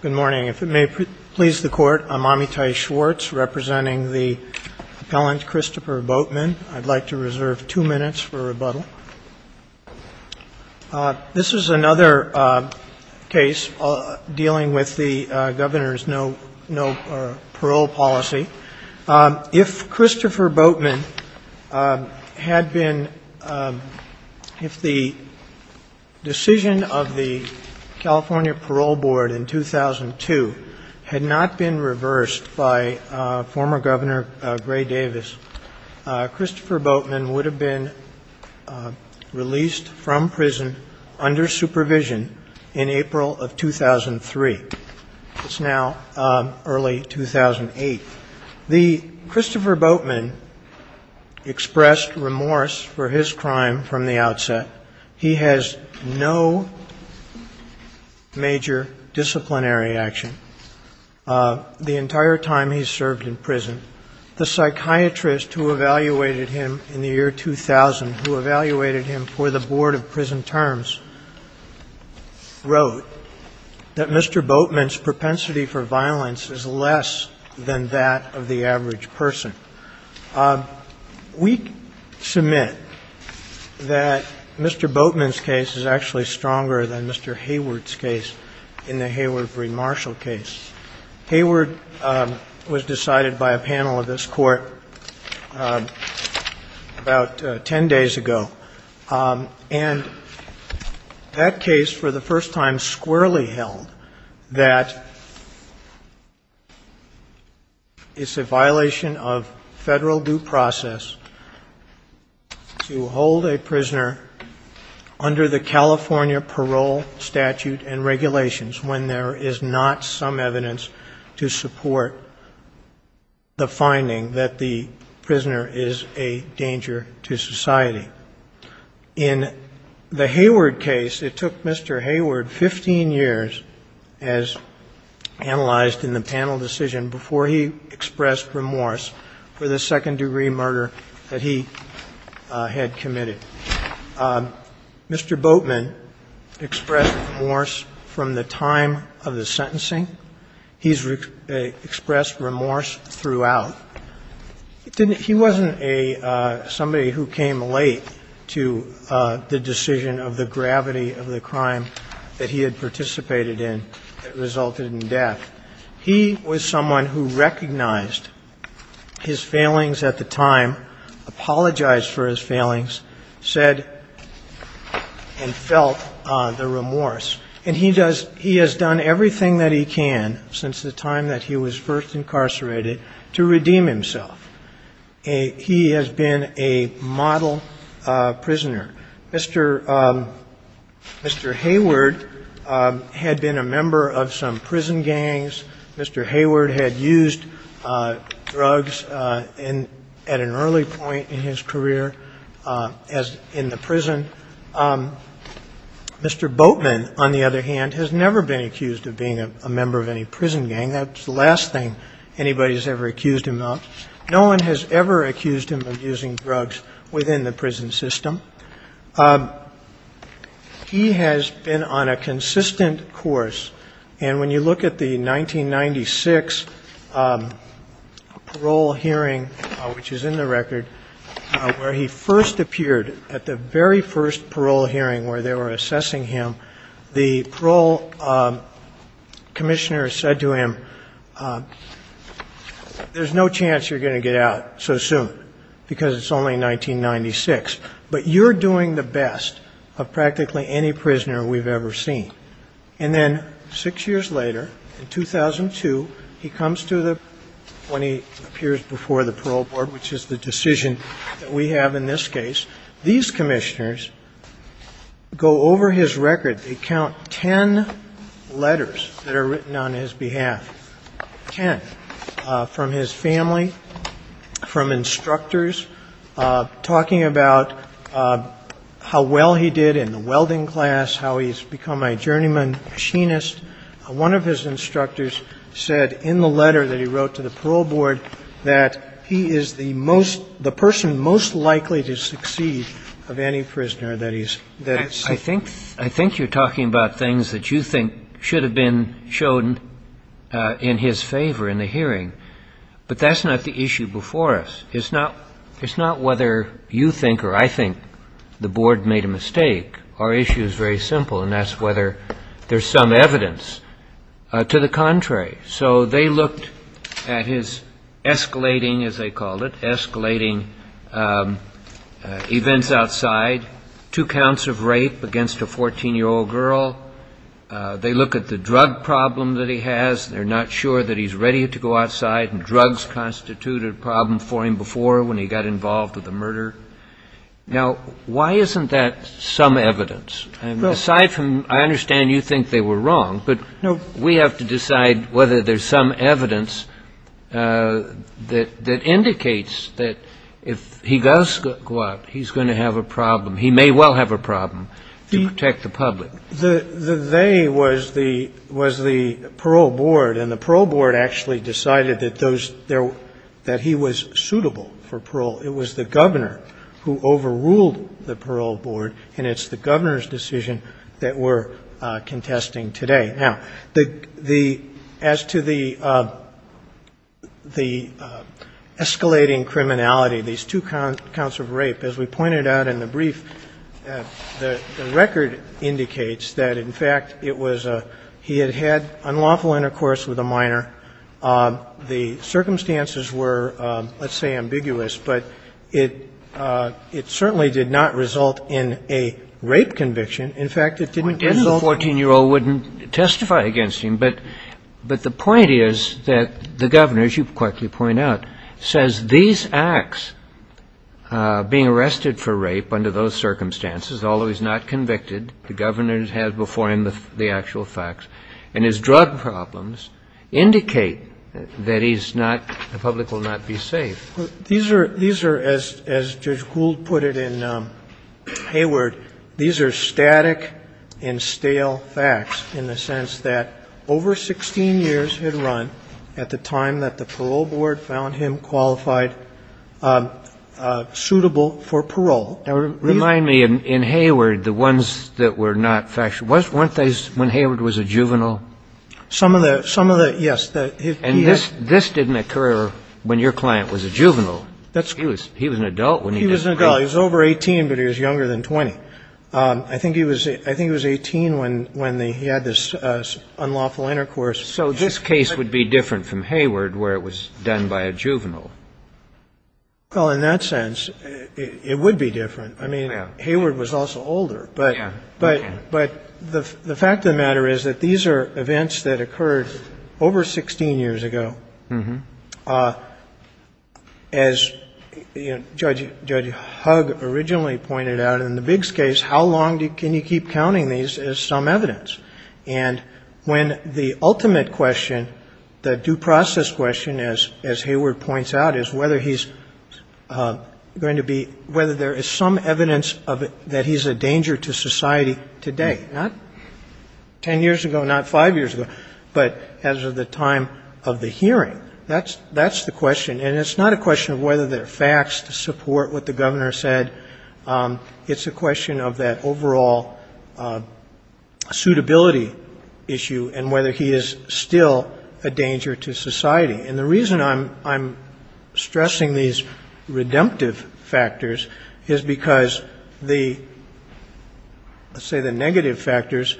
Good morning. If it may please the Court, I'm Amitai Schwartz representing the appellant Christopher Boatman. I'd like to reserve two minutes for rebuttal. This is another case dealing with the governor's no parole policy. If Christopher Boatman had been, if the decision of the California Parole Board in 2002 had not been reversed by former Governor Gray Davis, Christopher Boatman would have been released from prison under supervision in April of 2003. It's now early 2008. The Christopher Boatman expressed remorse for his crime from the outset. He has no major disciplinary action the entire time he's served in prison. The psychiatrist who evaluated him in the year 2000, who evaluated him for the Board of Prison Terms, wrote that Mr. Boatman's propensity for violence is less than that of the average person. We submit that Mr. Boatman's case is actually stronger than Mr. Hayward's case in the Hayward v. Marshall case. Hayward was decided by a panel of this Court about ten days ago, and that case for the first time squarely held that it's a violation of federal due process to hold a prisoner under the California parole statute and regulations when there is not some evidence to support the finding that the prisoner is a danger to society. In the Hayward case, it took Mr. Hayward 15 years, as analyzed in the panel decision, before he expressed remorse for the second-degree murder that he had committed. Mr. Boatman expressed remorse from the time of the sentencing. He's expressed remorse throughout. He wasn't a – somebody who came late to the decision of the gravity of the crime that he had participated in that resulted in death. He was someone who recognized his failings at the time, apologized for his failings, said and felt the remorse. And he does – he has done everything that he can since the time that he was first incarcerated to redeem himself. He has been a model prisoner. Mr. Hayward had been a member of some prison gangs. Mr. Hayward had used drugs at an early point in his career, as in the prison. Mr. Boatman, on the other hand, has never been accused of being a member of any prison gang. That's the last thing anybody has ever accused him of. No one has ever accused him of using drugs within the prison system. He has been on a consistent course. And when you look at the 1996 parole hearing, which is in the record, where he first appeared at the very first parole hearing where they were assessing him, the parole commissioner said to him, there's no chance you're going to get out so soon because it's only 1996, but you're doing the best of practically any prisoner we've ever seen. And then six years later, in 2002, he comes to the – when he appears before the parole board, which is the decision that we have in this case, these commissioners go over his record. They count ten letters that are written on his behalf, ten, from his family, from instructors, talking about how well he did in the welding class, how he's become a journeyman, machinist. One of his instructors said in the letter that he wrote to the parole board that he is the most – the person most likely to succeed of any prisoner that he's seen. I think you're talking about things that you think should have been shown in his favor in the hearing. But that's not the issue before us. It's not whether you think or I think the board made a mistake. Our issue is very simple, and that's whether there's some evidence. To the contrary. So they looked at his escalating, as they called it, escalating events outside, two counts of rape against a 14-year-old girl. They look at the drug problem that he has. They're not sure that he's ready to go outside. Drugs constituted a problem for him before when he got involved with the murder. Now, why isn't that some evidence? And aside from I understand you think they were wrong, but we have to decide whether there's some evidence that indicates that if he does go out, he's going to have a problem. He may well have a problem to protect the public. The they was the parole board, and the parole board actually decided that those – that he was suitable for parole. It was the governor who overruled the parole board, and it's the governor's decision that we're contesting today. Now, the – as to the escalating criminality, these two counts of rape, as we pointed out in the brief, the record indicates that, in fact, it was a – he had had unlawful intercourse with a minor. The circumstances were, let's say, ambiguous, but it certainly did not result in a rape conviction. In fact, it didn't result in – The 14-year-old wouldn't testify against him, but the point is that the governor, as you quickly point out, says these acts, being arrested for rape under those circumstances, although he's not convicted, the governor has before him the actual facts, and his drug problems indicate that he's not – the public will not be safe. These are – these are, as Judge Gould put it in Hayward, these are static and stale facts in the sense that over 16 years had run at the time that the parole board found him qualified, suitable for parole. Remind me, in Hayward, the ones that were not factual, weren't those when Hayward was a juvenile? Some of the – some of the – yes. And this didn't occur when your client was a juvenile. He was an adult when he did the rape. He was an adult. He was over 18, but he was younger than 20. I think he was – I think he was 18 when he had this unlawful intercourse. So this case would be different from Hayward where it was done by a juvenile. Well, in that sense, it would be different. I mean, Hayward was also older. But the fact of the matter is that these are events that occurred over 16 years ago. As Judge Hugg originally pointed out in the Biggs case, how long can you keep counting these as some evidence? And when the ultimate question, the due process question, as Hayward points out, is whether he's going to be – whether there is some evidence that he's a danger to society today, not 10 years ago, not five years ago, but as of the time of the hearing. That's the question. And it's not a question of whether there are facts to support what the Governor said. It's a question of that overall suitability issue and whether he is still a danger to society. And the reason I'm stressing these redemptive factors is because the – let's say the negative factors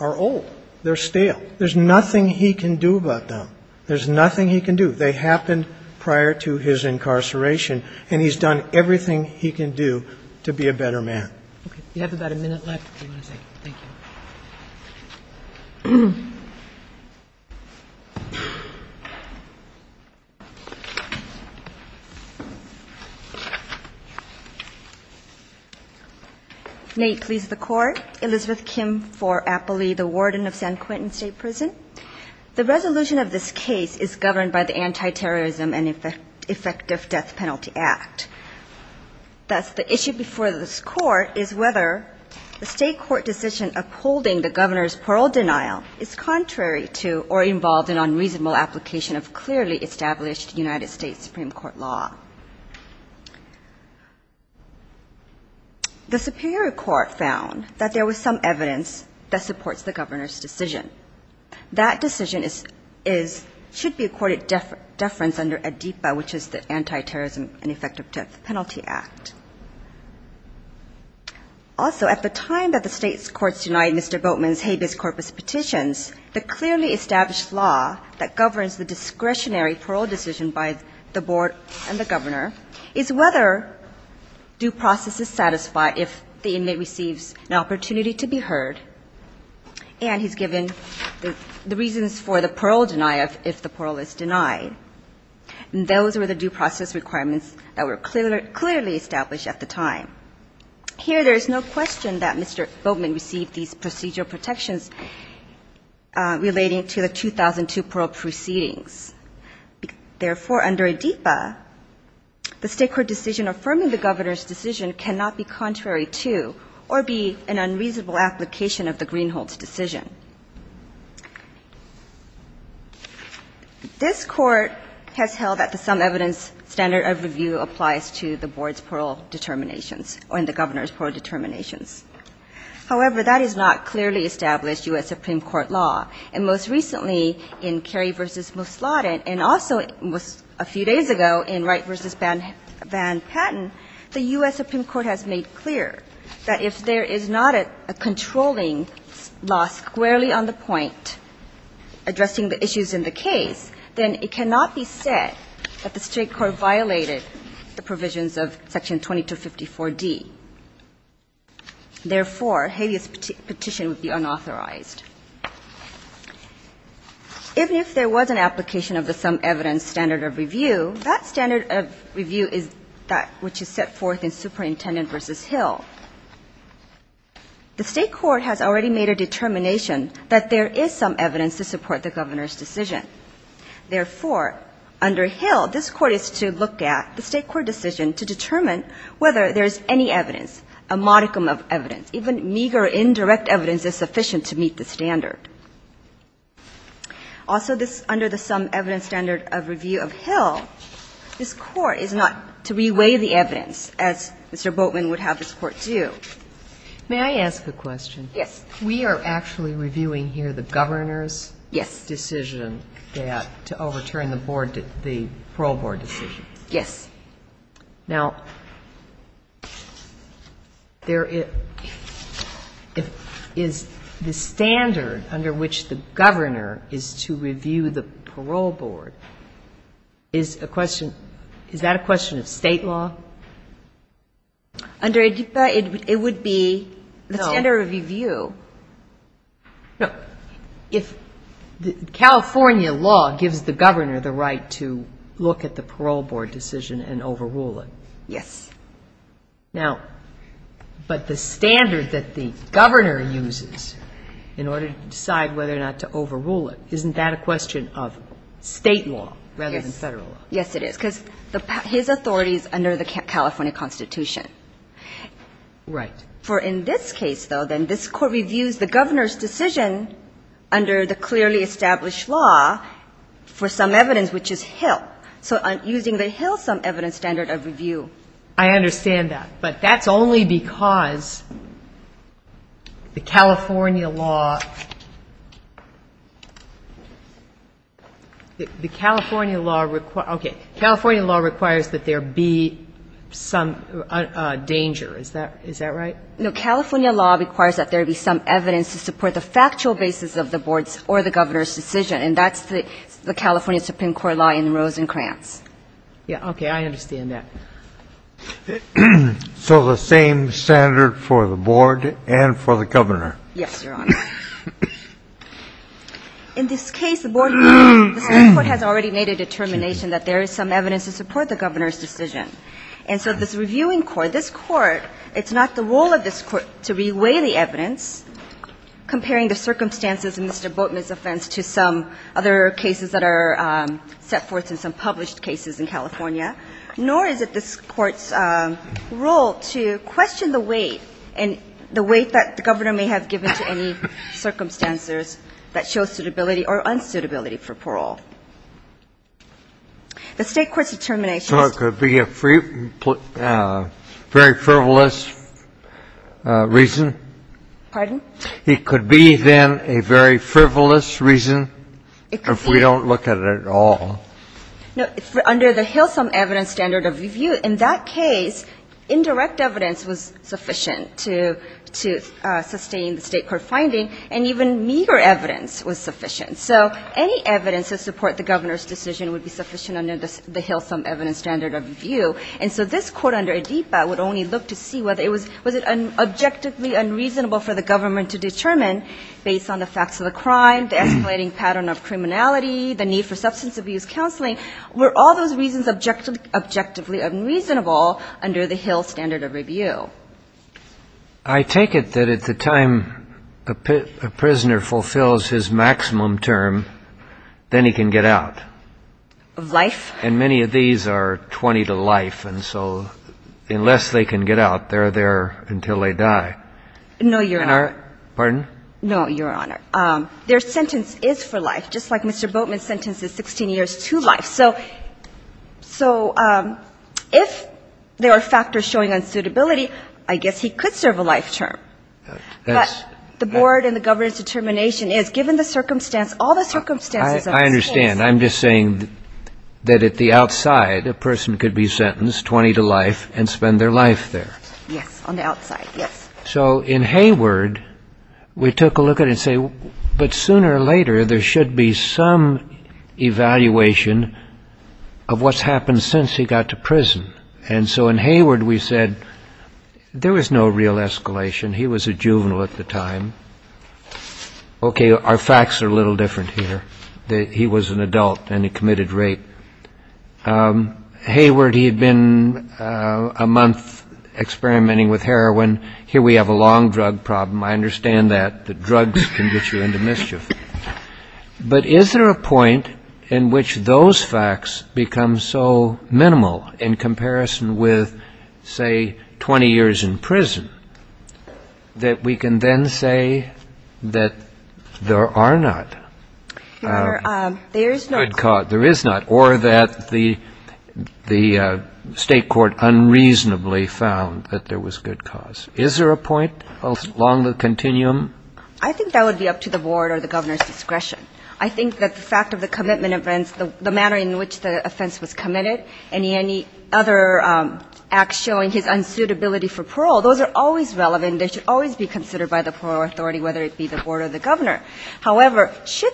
are old. They're stale. There's nothing he can do about them. There's nothing he can do. They happened prior to his incarceration. And he's done everything he can do to be a better man. Okay. You have about a minute left if you want to say. Thank you. May it please the Court. Elizabeth Kim for Appley, the Warden of San Quentin State Prison. The resolution of this case is governed by the Anti-Terrorism and Effective Death Penalty Act. Thus, the issue before this Court is whether the State court decision upholding the Governor's parole denial is contrary to or involved in unreasonable application of clearly established United States Supreme Court law. The Superior Court found that there was some evidence that supports the Governor's decision. That decision should be accorded deference under ADEPA, which is the Anti-Terrorism and Effective Death Penalty Act. Also, at the time that the State courts denied Mr. Boatman's habeas corpus petitions, the clearly established law that governs the discretionary parole decision by the Board and the Governor is whether due process is the reasons for the parole denial if the parole is denied. Those were the due process requirements that were clearly established at the time. Here, there is no question that Mr. Boatman received these procedural protections relating to the 2002 parole proceedings. Therefore, under ADEPA, the State court decision affirming the Governor's decision cannot be contrary to or be an unreasonable application of the Greenhold's decision. This Court has held that the some evidence standard of review applies to the Board's parole determinations or in the Governor's parole determinations. However, that is not clearly established U.S. Supreme Court law. And most recently, in Kerry v. Mousladen and also a few days ago in Wright v. Van Patten, the U.S. Supreme Court has made clear that if there is not a controlling law squarely on the point addressing the issues in the case, then it cannot be said that the State court violated the provisions of Section 2254d. Therefore, habeas petition would be unauthorized. Even if there was an application of the some evidence standard of review, that standard of review is that which is set forth in Superintendent v. Hill. The State court has already made a determination that there is some evidence to support the Governor's decision. Therefore, under Hill, this Court is to look at the State court decision to determine whether there is any evidence, a modicum of evidence, even meager indirect evidence is sufficient to meet the standard. Also, under the some evidence standard of review of Hill, this Court is not to reweigh the evidence, as Mr. Boatman would have this Court do. May I ask a question? Yes. We are actually reviewing here the Governor's decision to overturn the parole board decision? Yes. Now, is the standard under which the Governor is to review the parole board, is that a question of State law? Under ADPA, it would be the standard of review. No. No. If California law gives the Governor the right to look at the parole board decision and overrule it. Yes. Now, but the standard that the Governor uses in order to decide whether or not to overrule it, isn't that a question of State law rather than Federal law? Yes. Yes, it is, because his authority is under the California Constitution. Right. For in this case, though, then this Court reviews the Governor's decision under the clearly established law for some evidence, which is Hill. So using the Hill sum evidence standard of review. I understand that. But that's only because the California law requires that there be some danger. Is that right? No. California law requires that there be some evidence to support the factual basis of the Board's or the Governor's decision. And that's the California Supreme Court law in Rose and Krantz. Yeah. Okay. I understand that. So the same standard for the Board and for the Governor? Yes, Your Honor. In this case, the Board has already made a determination that there is some evidence to support the Governor's decision. And so this reviewing court, this Court, it's not the role of this Court to reweigh the evidence, comparing the circumstances in Mr. Boatman's offense to some other cases that are set forth in some published cases in California, nor is it this Court's role to question the weight and the weight that the Governor may have given to any circumstances that show suitability or unsuitability for parole. The State court's determination is to reweigh the evidence. Reason? Pardon? It could be, then, a very frivolous reason if we don't look at it at all. No. Under the Hillsum Evidence Standard of Review, in that case, indirect evidence was sufficient to sustain the State court finding, and even meager evidence was sufficient. So any evidence to support the Governor's decision would be sufficient under the Hillsum Evidence Standard of Review. And so this court under Adipa would only look to see whether it was objectively unreasonable for the Government to determine, based on the facts of the crime, the escalating pattern of criminality, the need for substance abuse counseling, were all those reasons objectively unreasonable under the Hillsum Evidence Standard of Review? I take it that at the time a prisoner fulfills his maximum term, then he can get out. Of life? And many of these are 20 to life, and so unless they can get out, they're there until they die. No, Your Honor. Pardon? No, Your Honor. Their sentence is for life, just like Mr. Boatman's sentence is 16 years to life. So if there are factors showing unsuitability, I guess he could serve a life term. But the Board and the Governor's determination is, given the circumstance, all the circumstances are the same. I understand. I'm just saying that at the outside, a person could be sentenced 20 to life and spend their life there. Yes, on the outside, yes. So in Hayward, we took a look at it and say, but sooner or later, there should be some evaluation of what's happened since he got to prison. And so in Hayward, we said there was no real escalation. He was a juvenile at the time. Okay, our facts are a little different here, that he was an adult and he committed rape. Hayward, he had been a month experimenting with heroin. Here we have a long drug problem. I understand that. The drugs can get you into mischief. But is there a point in which those facts become so minimal in comparison with, say, 20 years in prison, that we can then say that there are not good cause, there is not, or that the state court unreasonably found that there was good cause? Is there a point along the continuum? I think that would be up to the Board or the Governor's discretion. I think that the fact of the commitment events, the manner in which the offense was unsuitability for parole, those are always relevant. They should always be considered by the parole authority, whether it be the Board or the Governor. However, should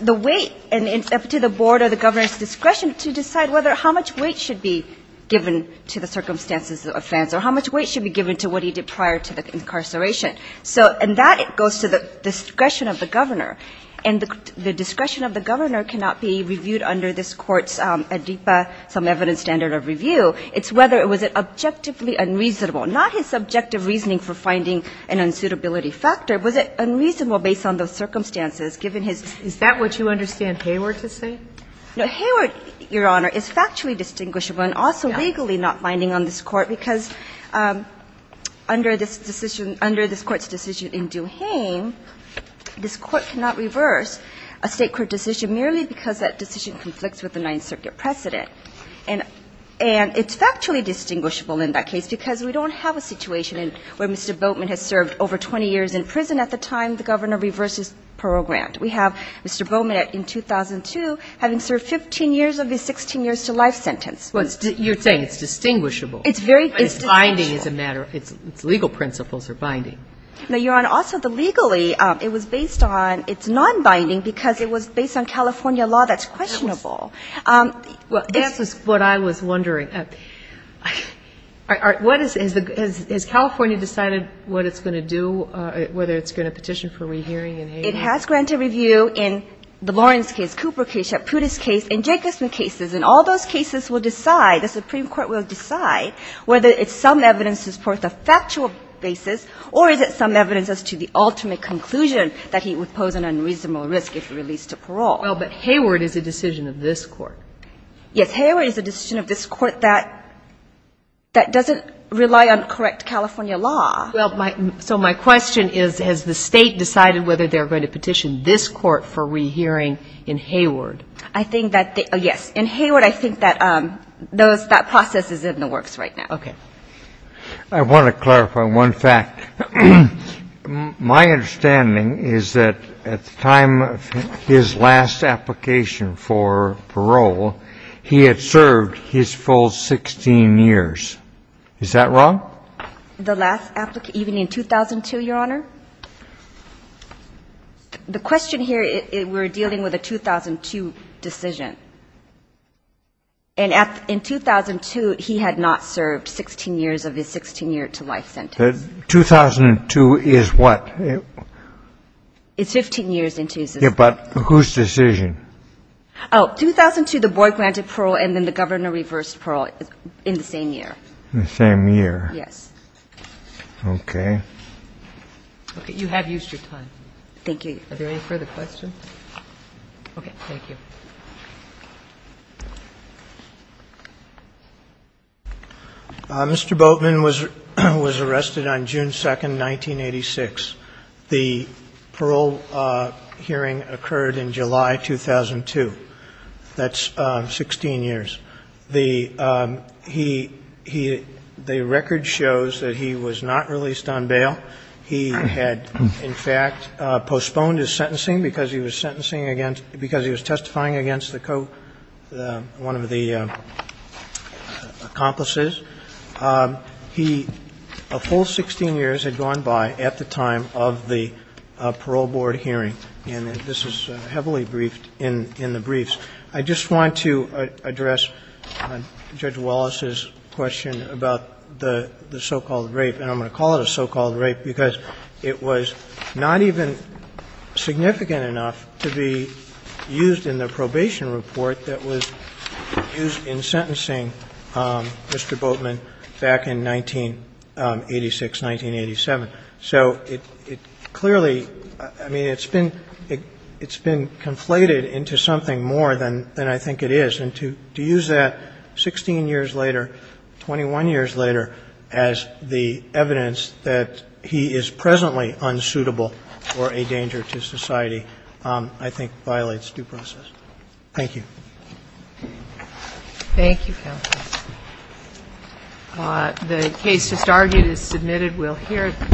the weight, and it's up to the Board or the Governor's discretion to decide how much weight should be given to the circumstances of the offense or how much weight should be given to what he did prior to the incarceration. And that goes to the discretion of the Governor. And the discretion of the Governor cannot be reviewed under this Court's ADIPA, some evidence standard of review. It's whether it was objectively unreasonable, not his subjective reasoning for finding an unsuitability factor. Was it unreasonable based on those circumstances given his – Is that what you understand Hayward to say? No. Hayward, Your Honor, is factually distinguishable and also legally not binding on this Court because under this decision, under this Court's decision in Duhaime, this Court cannot reverse a state court decision merely because that decision conflicts with the Ninth Circuit precedent. And it's factually distinguishable in that case because we don't have a situation where Mr. Boatman has served over 20 years in prison at the time the Governor reversed his parole grant. We have Mr. Boatman in 2002 having served 15 years of his 16 years to life sentence. Well, you're saying it's distinguishable. It's very – But it's binding as a matter – its legal principles are binding. No, Your Honor. Also, the legally, it was based on – it's nonbinding because it was based on California law that's questionable. Well, this is what I was wondering. What is – has California decided what it's going to do, whether it's going to petition for rehearing in Hayward? It has granted review in the Lawrence case, Cooper case, Shaputo's case, and Jacobson cases. And all those cases will decide, the Supreme Court will decide whether it's some evidence to support the factual basis or is it some evidence as to the ultimate conclusion that he would pose an unreasonable risk if released to parole. Well, but Hayward is a decision of this Court. Yes. Hayward is a decision of this Court that doesn't rely on correct California law. Well, so my question is, has the State decided whether they're going to petition this Court for rehearing in Hayward? I think that they – yes. In Hayward, I think that those – that process is in the works right now. I want to clarify one fact. My understanding is that at the time of his last application for parole, he had served his full 16 years. Is that wrong? The last – even in 2002, Your Honor? The question here, we're dealing with a 2002 decision. And in 2002, he had not served 16 years of his 16-year-to-life sentence. 2002 is what? It's 15 years in two sentences. But whose decision? Oh, 2002, the Board granted parole, and then the Governor reversed parole in the same year. The same year. Yes. Okay. Okay. You have used your time. Thank you. Are there any further questions? Okay. Thank you. Mr. Boatman was arrested on June 2nd, 1986. The parole hearing occurred in July 2002. That's 16 years. The – he – the record shows that he was not released on bail. He had, in fact, postponed his sentencing because he was sentencing against – because he was testifying against the – one of the accomplices. He – a full 16 years had gone by at the time of the parole board hearing. And this is heavily briefed in the briefs. I just want to address Judge Wallace's question about the so-called rape, and I'm going to call it a so-called rape because it was not even significant enough to be used in the probation report that was used in sentencing Mr. Boatman back in 1986, 1987. So it clearly – I mean, it's been – it's been conflated into something more than I think it is. And to use that 16 years later, 21 years later, as the evidence that he is presently unsuitable or a danger to society I think violates due process. Thank you. Thank you, Counsel. The case just argued is submitted. We'll hear it.